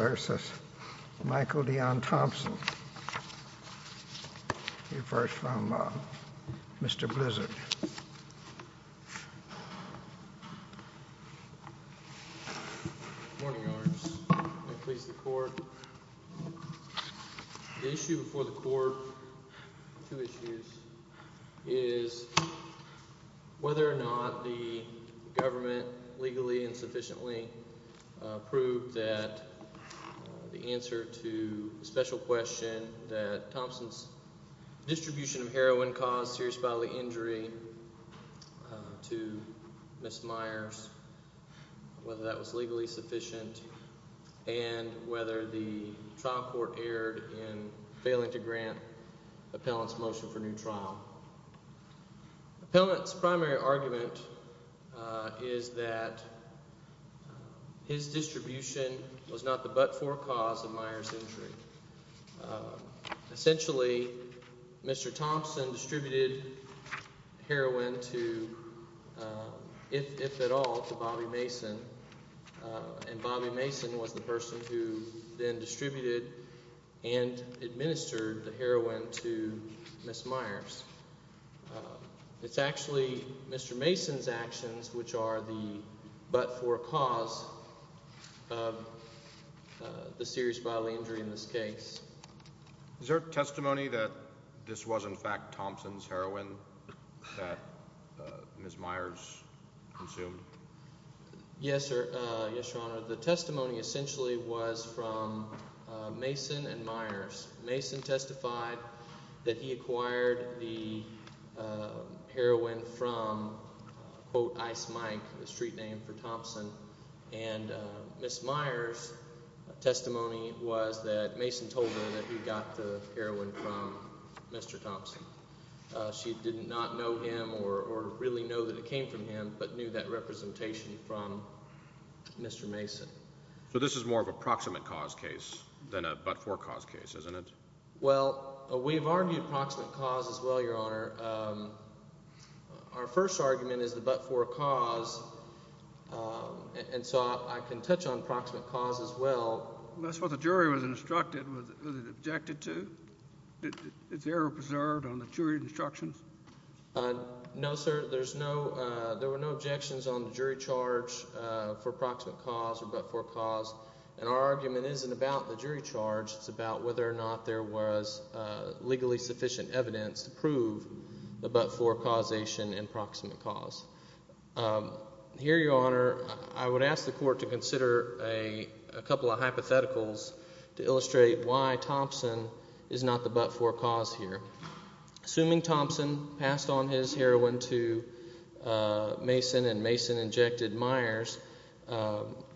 v. Michael Deon Thompson He refers from Mr. Blizzard Good morning, Your Honor. May it please the Court. The issue before the Court, two issues, is whether or not the answer to the special question that Thompson's distribution of heroin caused serious bodily injury to Ms. Myers, whether that was legally sufficient, and whether the trial court erred in failing to grant the appellant's motion for new trial. Appellant's primary argument is that his distribution was not the but-for cause of Myers' injury. Essentially, Mr. Thompson distributed heroin to, if at all, to Bobby Mason, and Bobby Mason was the person who then distributed and administered the heroin to Mason's actions, which are the but-for cause of the serious bodily injury in this case. Is there testimony that this was, in fact, Thompson's heroin that Ms. Myers consumed? Yes, Your Honor. The testimony essentially was from Mason and Myers. Mason testified that he acquired the heroin from, quote, Ice Mike, the street name for Thompson. And Ms. Myers' testimony was that Mason told her that he got the heroin from Mr. Thompson. She did not know him or really know that it came from him, but knew that representation from Mr. Mason. So this is more of a testimony from Mason. We've argued proximate cause as well, Your Honor. Our first argument is the but-for cause. And so I can touch on proximate cause as well. That's what the jury was instructed. Was it objected to? Is the error preserved on the jury instructions? No, sir. There's no there were no objections on the jury charge for proximate cause or but-for cause. And our argument isn't about the jury charge. It's about whether or not there was legally sufficient evidence to prove the but-for causation and proximate cause. Here, Your Honor, I would ask the court to consider a couple of hypotheticals to illustrate why Thompson is not the but-for cause here. Assuming Thompson passed on his heroin to Mason and Mason injected Myers,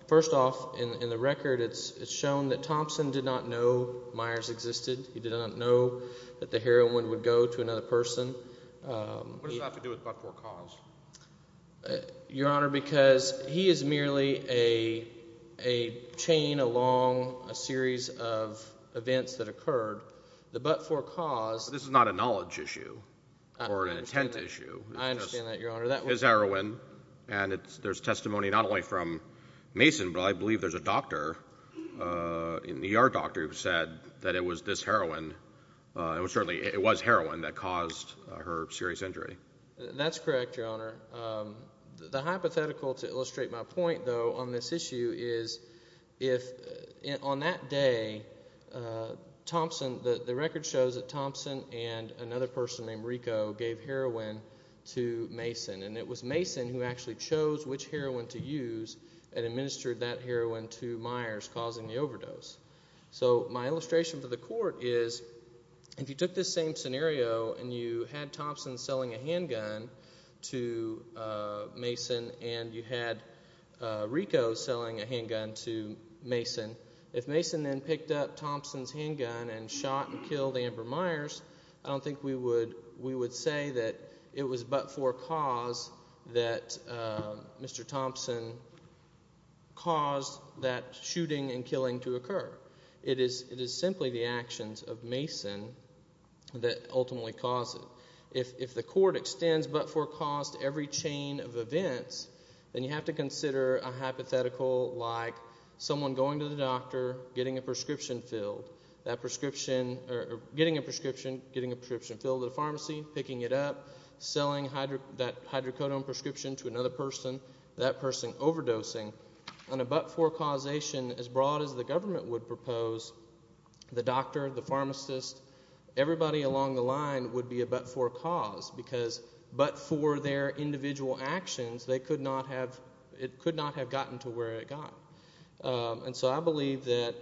first off, in the record it's shown that Thompson did not know Myers existed. He did not know that the heroin would go to another person. What does that have to do with but-for cause? Your Honor, because he is merely a but-for cause. This is not a knowledge issue or an intent issue. I understand that, Your Honor. It's heroin, and there's testimony not only from Mason, but I believe there's a doctor in the ER doctor who said that it was this heroin it was heroin that caused her serious injury. That's correct, Your Honor. The hypothetical to illustrate my point, though, on this issue is if on that day Thompson the record shows that Thompson and another person named Rico gave heroin to Mason. It was Mason who actually chose which heroin to use and administered that heroin to Myers causing the overdose. My illustration for the court is if you took this same scenario and you had Thompson selling a handgun to Mason, if Mason then picked up Thompson's handgun and shot and killed Amber Myers I don't think we would say that it was but-for cause that Mr. Thompson caused that shooting and killing to occur. It is simply the actions of Mason that ultimately caused it. If the court extends but-for cause to every someone going to the doctor, getting a prescription filled getting a prescription filled at a pharmacy, picking it up, selling that hydrocodone prescription to another person, that person overdosing, on a but-for causation as broad as the government would propose, the doctor, the pharmacist everybody along the line would be a but-for cause because but-for their and so I believe that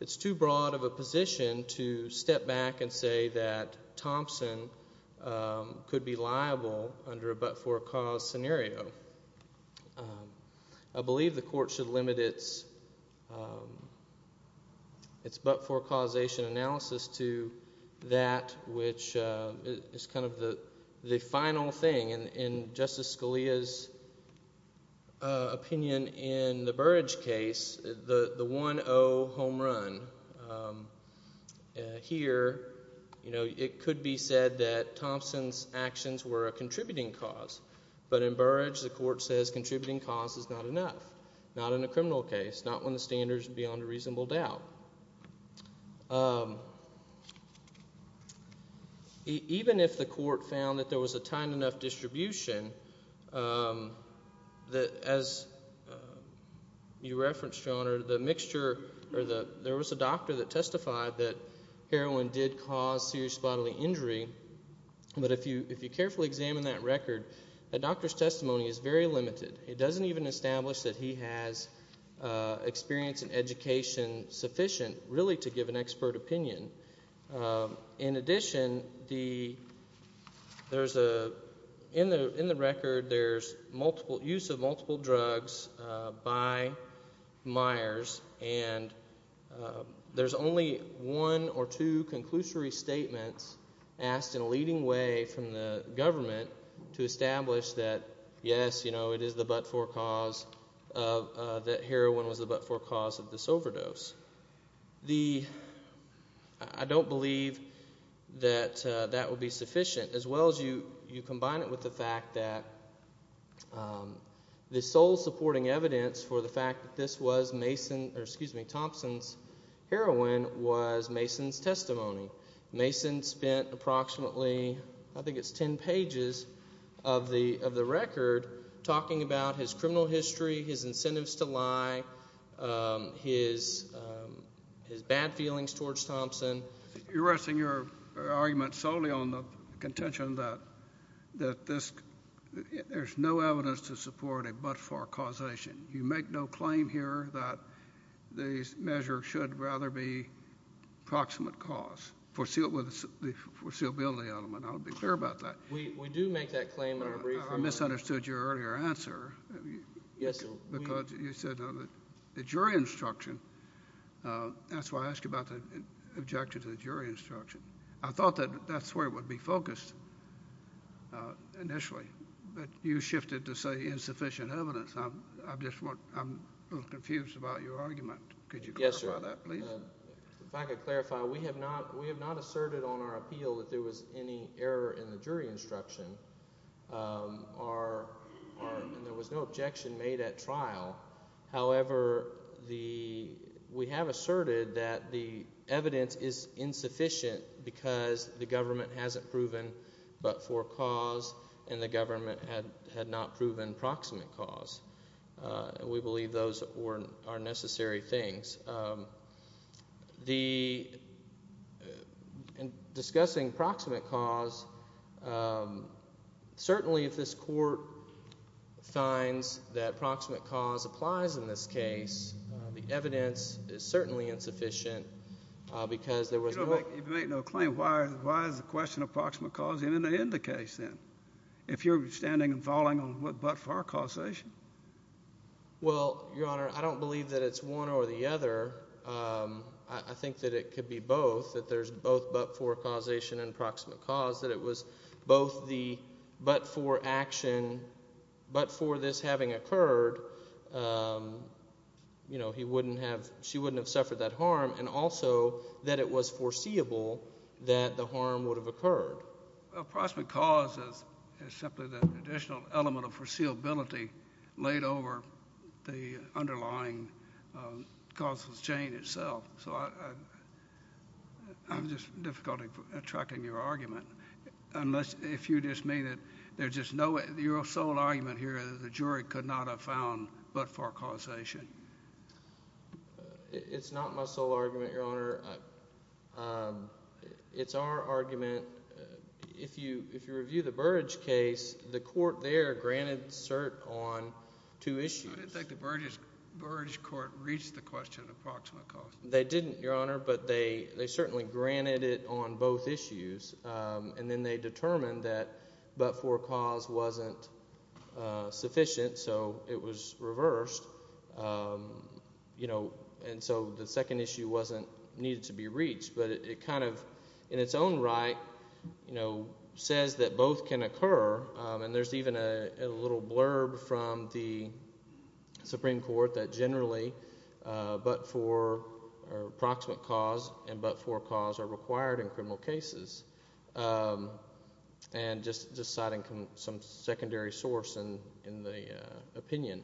it's too broad of a position to step back and say that Thompson could be liable under a but-for cause scenario. I believe the court should limit its but-for causation analysis to that which is kind of the final thing and Justice Scalia's opinion in the Burrage case the 1-0 home run here it could be said that Thompson's actions were a contributing cause but in Burrage the court says contributing cause is not enough, not in a criminal case not when the standard is beyond a reasonable doubt even if the court found that there was a tiny enough distribution as you referenced, your honor, the mixture there was a doctor that testified that heroin did cause serious bodily injury but if you carefully examine that record, that doctor's testimony is very limited it doesn't even establish that he has experience and education sufficient really to give an expert opinion. In addition there's a, in the record there's multiple use of multiple drugs by Myers and there's only one or two conclusory statements asked in a leading way from the government to establish that yes, it is the but-for cause that heroin was the but-for cause of this overdose I don't believe that that would be sufficient as well as you combine it with the fact that the sole supporting evidence for the fact that this was Thompson's heroin was Mason's testimony. Mason spent approximately I think it's ten pages of the record talking about his criminal history, his incentives to lie, his bad feelings towards Thompson. You're resting your argument solely on the contention that there's no evidence to support a but-for causation. You make no claim here that the measure should rather be proximate cause, the foreseeability element. I'll be clear about that. We do make that claim in our brief. I misunderstood your earlier answer because you said the jury instruction, that's why I ask about the objection to the jury instruction. I thought that that's where it would be focused initially, but you shifted to say insufficient evidence. I'm confused about your argument. Could you clarify that please? If I could clarify, we have not asserted on our appeal that there was any error in the jury instruction. There was no objection made at trial. The evidence is insufficient because the government hasn't proven but-for cause and the government had not proven proximate cause. We believe those are necessary things. Discussing proximate cause, certainly if this court finds that proximate cause applies in this case, the evidence is certainly insufficient because there was no... You make no claim. Why is the question of proximate cause in the case then, if you're standing and falling on what but-for causation? Well, Your Honor, I don't believe that it's one or the other. I think that it could be both, that there's both but-for causation and proximate cause, that it was both the but-for action, but for this having occurred, she wouldn't have suffered that harm, and also that it was foreseeable that the harm would have occurred. Proximate cause is simply the additional element of foreseeability laid over the underlying causal chain itself. I'm just having difficulty tracking your argument unless you just mean that there's just no... Your sole argument here is that the jury could not have found but-for causation. It's not my sole argument, Your Honor. It's our argument if you review the Burridge case, the court there granted cert on two issues. I didn't think the Burridge court reached the question of proximate cause. They didn't, Your Honor, but they certainly granted it on both issues, and then they determined that but-for cause wasn't sufficient, so it was reversed, and so the second issue needed to be reached, but it kind of, in its own right, says that both can occur, and there's even a little blurb from the Supreme Court that generally but-for or proximate cause and but-for cause are required in criminal cases, and just citing some secondary source in the opinion.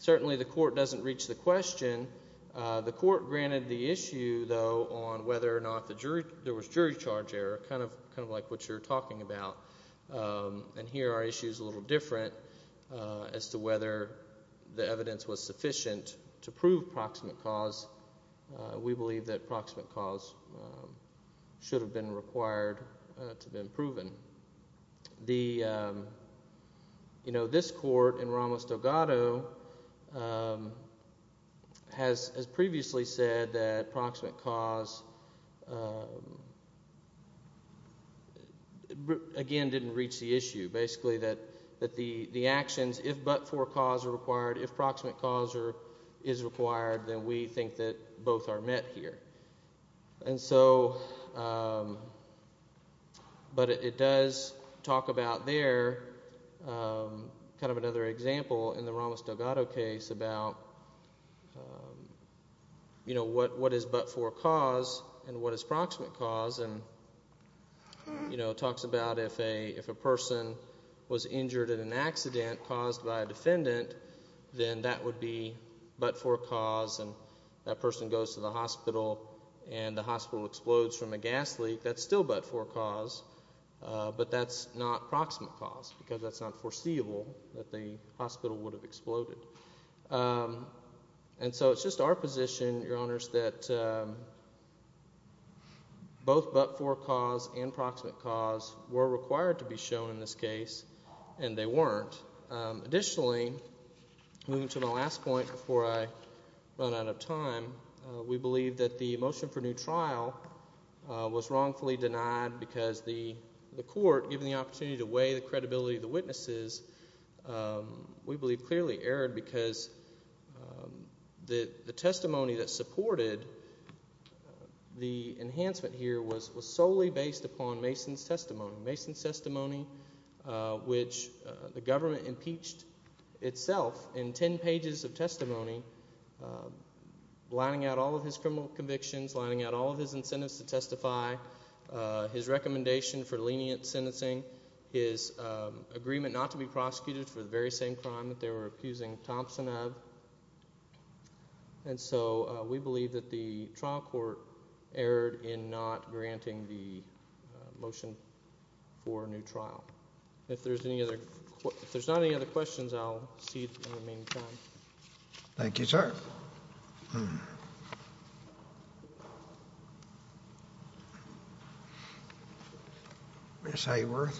Certainly the court doesn't reach the question. The court granted the issue, though, on whether or not there was jury charge error, kind of like what you're talking about, and here our issue is a little different as to whether the evidence was sufficient to prove proximate cause. We believe that proximate cause should have been required to have been proven. This court in Ramos-Dogato has previously said that proximate cause, again, didn't reach the issue. Basically that the actions, if but-for cause are required, if proximate cause is required, then we think that both are met here, but it does talk about there, kind of another example in the Ramos-Dogato case about what is but-for cause and what is proximate cause, and it talks about if a person was injured in an accident caused by a defendant, then that would be but-for cause, and that person goes to the hospital and the hospital explodes from a gas leak, that's still but-for cause, but that's not proximate cause because that's not foreseeable that the hospital would have exploded. And so it's just our position, Your Honors, that both but-for cause and proximate cause were required to be shown in this case, and they weren't. Additionally, moving to the last point before I run out of time, we believe that the motion for new trial was wrongfully denied because the court, given the opportunity to weigh the credibility of the witnesses, we believe clearly erred because the testimony that supported the enhancement here was solely based upon Mason's testimony. Mason's testimony, which the government impeached itself in ten pages of testimony, lining out all of his criminal convictions, lining out all of his incentives to testify, his recommendation for lenient sentencing, his agreement not to be prosecuted for the very same crime that they were going to be prosecuted for. So we believe that the trial court erred in not granting the motion for a new trial. If there's not any other questions, I'll cede the remaining time. Thank you, sir. Ms. Hayworth.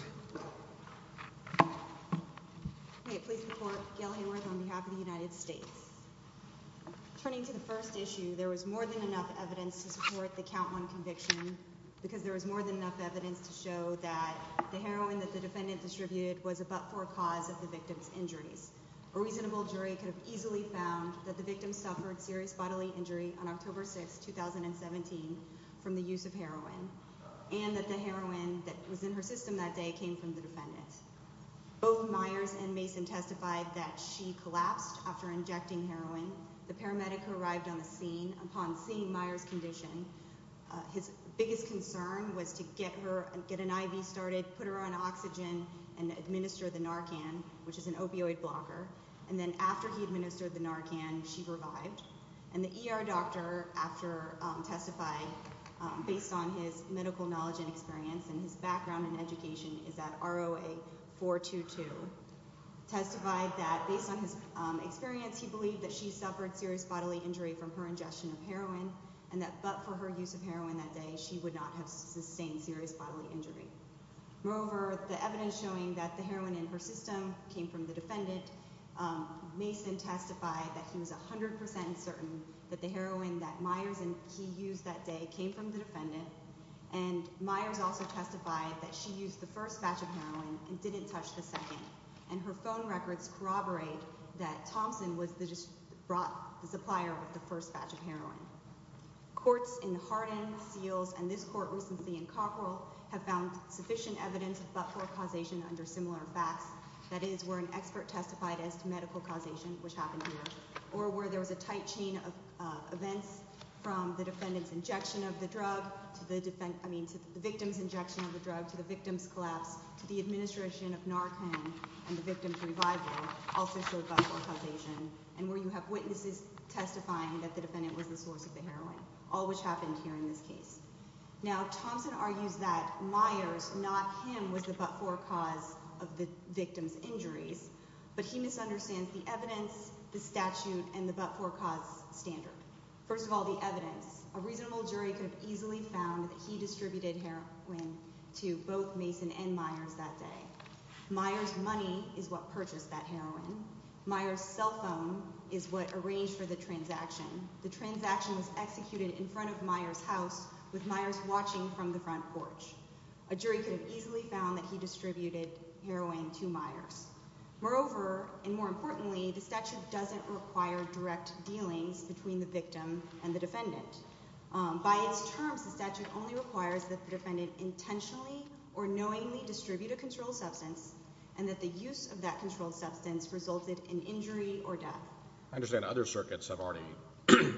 Please support Gail Hayworth on behalf of the United States. Turning to the first issue, there was more than enough evidence to support the count one conviction because there was more than enough evidence to show that the heroin that the defendant distributed was a but-for cause of the victim's injuries. A reasonable jury could have easily found that the victim suffered serious bodily injury on October 6, 2017 from the use of heroin, and that the heroin that was in her system that day came from the defendant. Both Myers and Mason testified that she collapsed after injecting heroin. The paramedic who arrived on the scene, upon seeing Myers' condition, his biggest concern was to get an IV started, put her on oxygen, and administer the Narcan, which is an opioid blocker. And then after he administered the Narcan, she revived. And the ER doctor, after testifying based on his medical knowledge and experience, and his background in education, is at ROA 422, testified that based on his experience, he believed that she suffered serious bodily injury from her ingestion of heroin, and that but for her use of heroin that day, she would not have sustained serious bodily injury. Moreover, the evidence showing that the heroin in her system came from the defendant, Mason testified that he was 100% certain that the heroin that Myers and he used that day came from the defendant. And Myers also testified that she used the first batch of heroin and didn't touch the second. And her phone records corroborate that Thompson was the supplier of the first batch of heroin. Courts in Hardin, Seals, and this court recently in Cockrell have found sufficient evidence of but-for causation under similar facts. That is, where an expert testified as to medical causation, which happened here, or where there was a tight chain of events from the defendant's injection of the drug, to the victim's injection of the drug, to the victim's collapse, to the administration of Narcan and the victim's revival, also showed but-for causation. And where you have witnesses testifying that the defendant was the source of the heroin, all which happened here in this case. Now, Thompson argues that Myers, not him, was the but-for cause of the victim's injuries, but he misunderstands the evidence, the statute, and the but-for cause standard. First of all, the evidence. A reasonable jury could have easily found that he distributed heroin to both Mason and Myers that day. Myers' money is what purchased that heroin. Myers' cell phone is what arranged for the transaction. The transaction was executed in front of Myers' house, with Myers watching from the front porch. A jury could have easily found that he distributed heroin to Myers. Moreover, and more importantly, the statute doesn't require direct dealings between the victim and the defendant. By its terms, the statute only requires that the defendant intentionally or knowingly distribute a controlled substance, and that the use of that controlled substance resulted in injury or death. I understand other circuits have already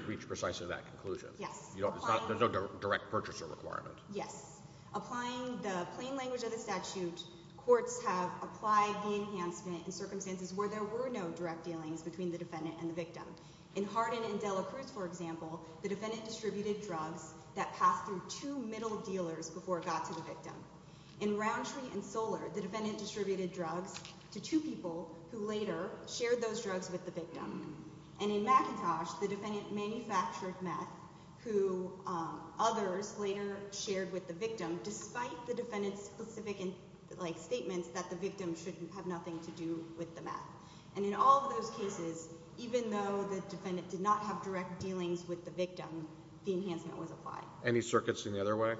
reached precisely that conclusion. Yes. There's no direct purchaser requirement. Yes. Applying the plain language of the statute, courts have applied the enhancement in circumstances where there were no direct dealings between the victim and the defendant. For example, in McIntosh, the defendant distributed meth that passed through two middle dealers before it got to the victim. In Roundtree and Solar, the defendant distributed drugs to two people who later shared those drugs with the victim. And in McIntosh, the defendant manufactured meth who others later shared with the victim, despite the defendant's specific statements that the victim shouldn't have nothing to do with the meth. And in all of those cases, even though the defendant did not have direct dealings with the victim, the enhancement was applied. Any circuits in the other way?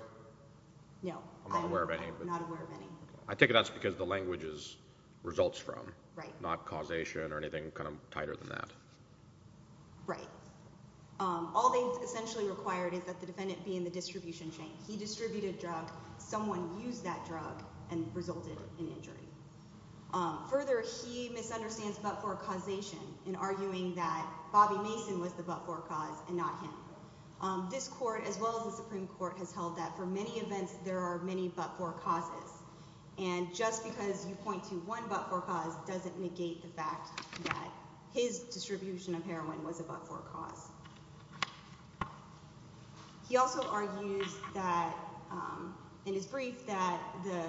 No. I'm not aware of any. I'm not aware of any. I take it that's because the language results from, not causation or anything tighter than that. Right. All they've essentially required is that the defendant be in the distribution chain. He distributed drug. Someone used that drug and resulted in injury. Further, he misunderstands but-for causation in arguing that Bobby Mason was the but-for cause and not him. This court, as well as the Supreme Court, has held that for many events, there are many but-for causes. And just because you point to one but-for cause doesn't negate the fact that his distribution of heroin was a but-for cause. He also argues that, in his brief, that the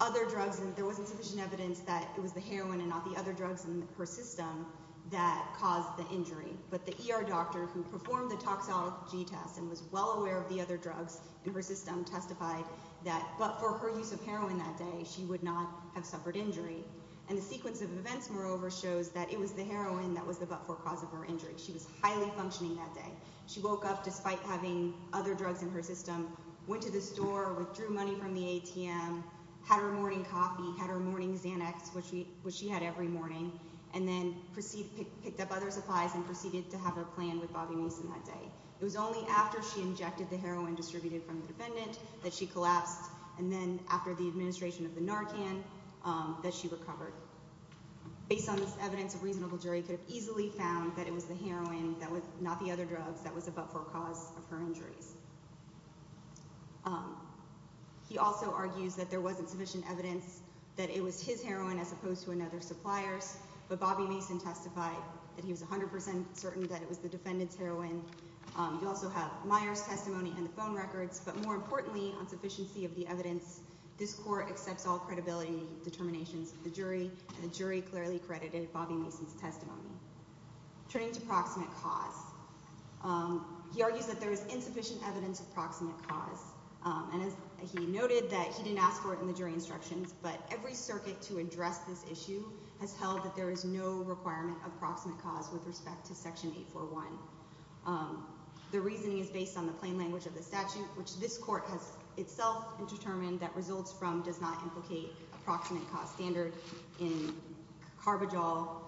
other drugs, there wasn't sufficient evidence that it was the heroin and not the other drugs in her system that caused the injury. But the ER doctor who performed the toxology test and was well aware of the other drugs in her system testified that, but for her use of heroin that day, she would not have suffered injury. And the sequence of events, moreover, shows that it was the heroin that was the but-for cause of her injury. She was highly functioning that day. She woke up, despite having other drugs in her system, went to the store, withdrew money from the ATM, had her morning coffee, had her morning Xanax, which she had every morning, and then picked up other supplies and proceeded to have her planned with Bobby Mason that day. It was only after she went to the administration of the Narcan that she recovered. Based on this evidence, a reasonable jury could have easily found that it was the heroin, not the other drugs, that was the but-for cause of her injuries. He also argues that there wasn't sufficient evidence that it was his heroin as opposed to another supplier's, but Bobby Mason testified that he was 100% certain that it was the defendant's heroin. You also have the supplier's testimony and the phone records, but more importantly, on sufficiency of the evidence, this court accepts all credibility determinations of the jury, and the jury clearly credited Bobby Mason's testimony. Turning to proximate cause, he argues that there is insufficient evidence of proximate cause, and he noted that he didn't ask for it in the jury instructions, but every circuit to address this issue has held that there is no requirement of proximate cause with respect to Section 841. The reasoning is based on the plain language of the statute, which this court has itself determined that results from does not implicate a proximate cause standard in Carbajal,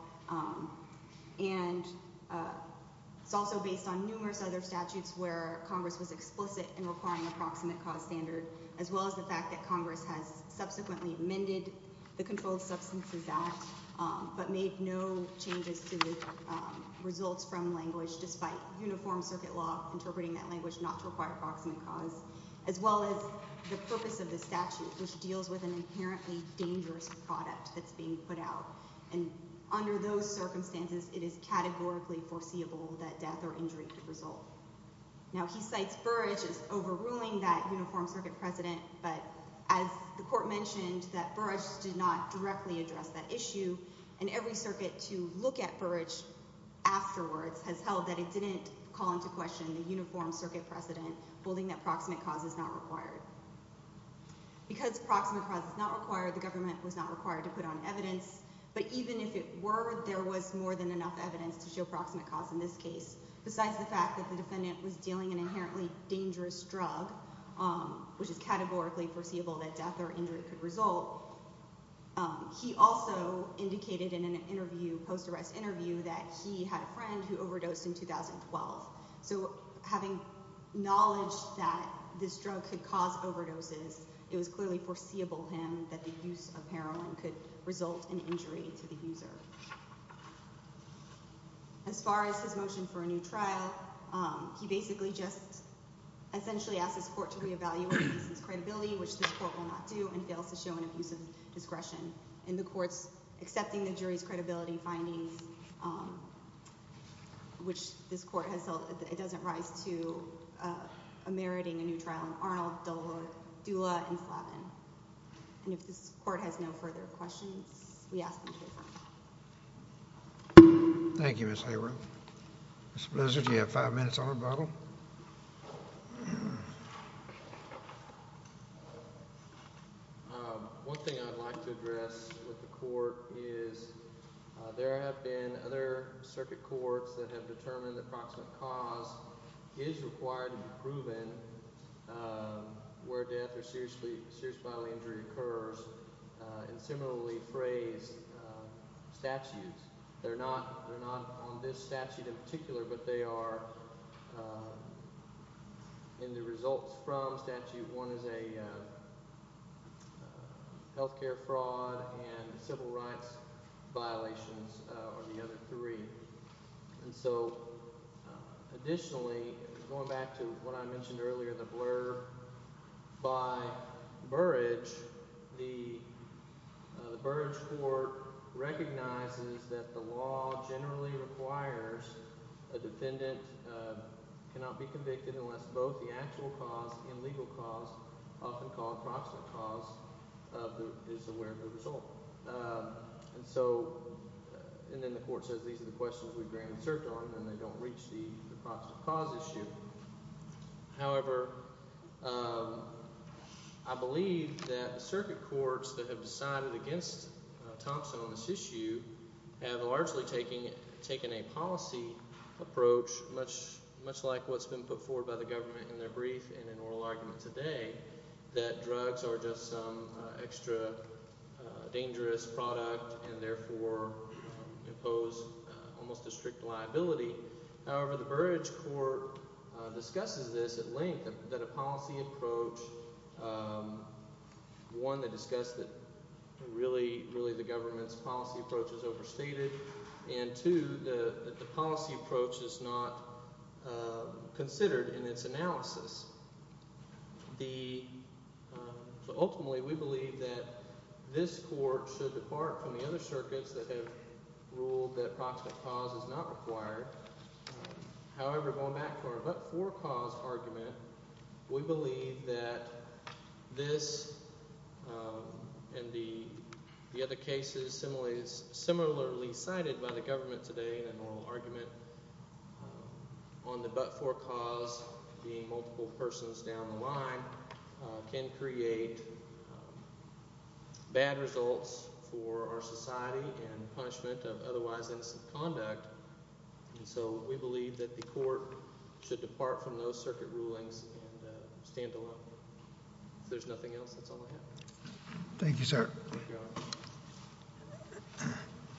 and it's also based on numerous other statutes where Congress was explicit in requiring a proximate cause standard, as well as the fact that Congress has made changes to results from language despite uniform circuit law interpreting that language not to require proximate cause, as well as the purpose of the statute, which deals with an inherently dangerous product that's being put out, and under those circumstances, it is categorically foreseeable that death or injury could result. Now, he cites Burrage as overruling that uniform circuit precedent, but as the court mentioned, that Burrage did not directly address that issue, and every circuit to look at Burrage afterwards has held that it didn't call into question the uniform circuit precedent, holding that proximate cause is not required. Because proximate cause is not required, the government was not required to put on evidence, but even if it were, there was more than enough evidence to show proximate cause in this case, besides the fact that the defendant was dealing an inherently dangerous drug, which is categorically foreseeable that death or injury could result. He also indicated in an interview, post-arrest interview, that he had a friend who overdosed in 2012. So having knowledge that this drug could cause overdoses, it was clearly foreseeable to him that the use of heroin could result in injury to the user. As far as his motion for a new trial, he basically just essentially asks this court to re-evaluate the defendant's credibility, which this court will not do, and fails to show an abuse of discretion. And the court's accepting the jury's credibility findings, which this court has held that it doesn't rise to meriting a new trial in Arnold, Dula, and Slavin. And if this court has no further questions, we ask them to defer. Thank you, Ms. Hayward. Mr. Blizzard, you have five minutes on the bottle. One thing I'd like to address with the court is there have been other circuit courts that have determined that proximate cause is required to be proven where death or serious bodily injury occurs, and similarly phrase statutes. They're not on this statute in particular, but they are in the results from statute. One is a health care fraud and civil rights violations, or the other three. And so additionally, going back to what I mentioned earlier, the blurb by Burrage, the Burrage court recognizes that the law generally requires a defendant cannot be convicted unless both the actual cause and legal cause, often called proximate cause, is aware of the result. And then the court says these are the questions we've granted cert on, and they don't reach the proximate cause issue. However, I believe that circuit courts that have decided against Thompson on this issue have largely taken a policy approach, much like what's been put forward by the government in their brief and in oral arguments today, that drugs are just some extra dangerous product and therefore impose almost a strict liability. However, the Burrage court discusses this at length, that a policy approach, one, to discuss that really the government's policy approach is overstated, and two, that the policy approach is not considered in its analysis. Ultimately, we believe that this court should depart from the other circuits that have ruled that proximate cause is not required. However, going back to our but-for cause argument, we believe that this and the other cases similarly cited by the government today in an oral argument on the but-for cause being multiple persons down the line can create bad results for our society and punishment of otherwise innocent conduct. And so we believe that the court should depart from those Thank you, sir.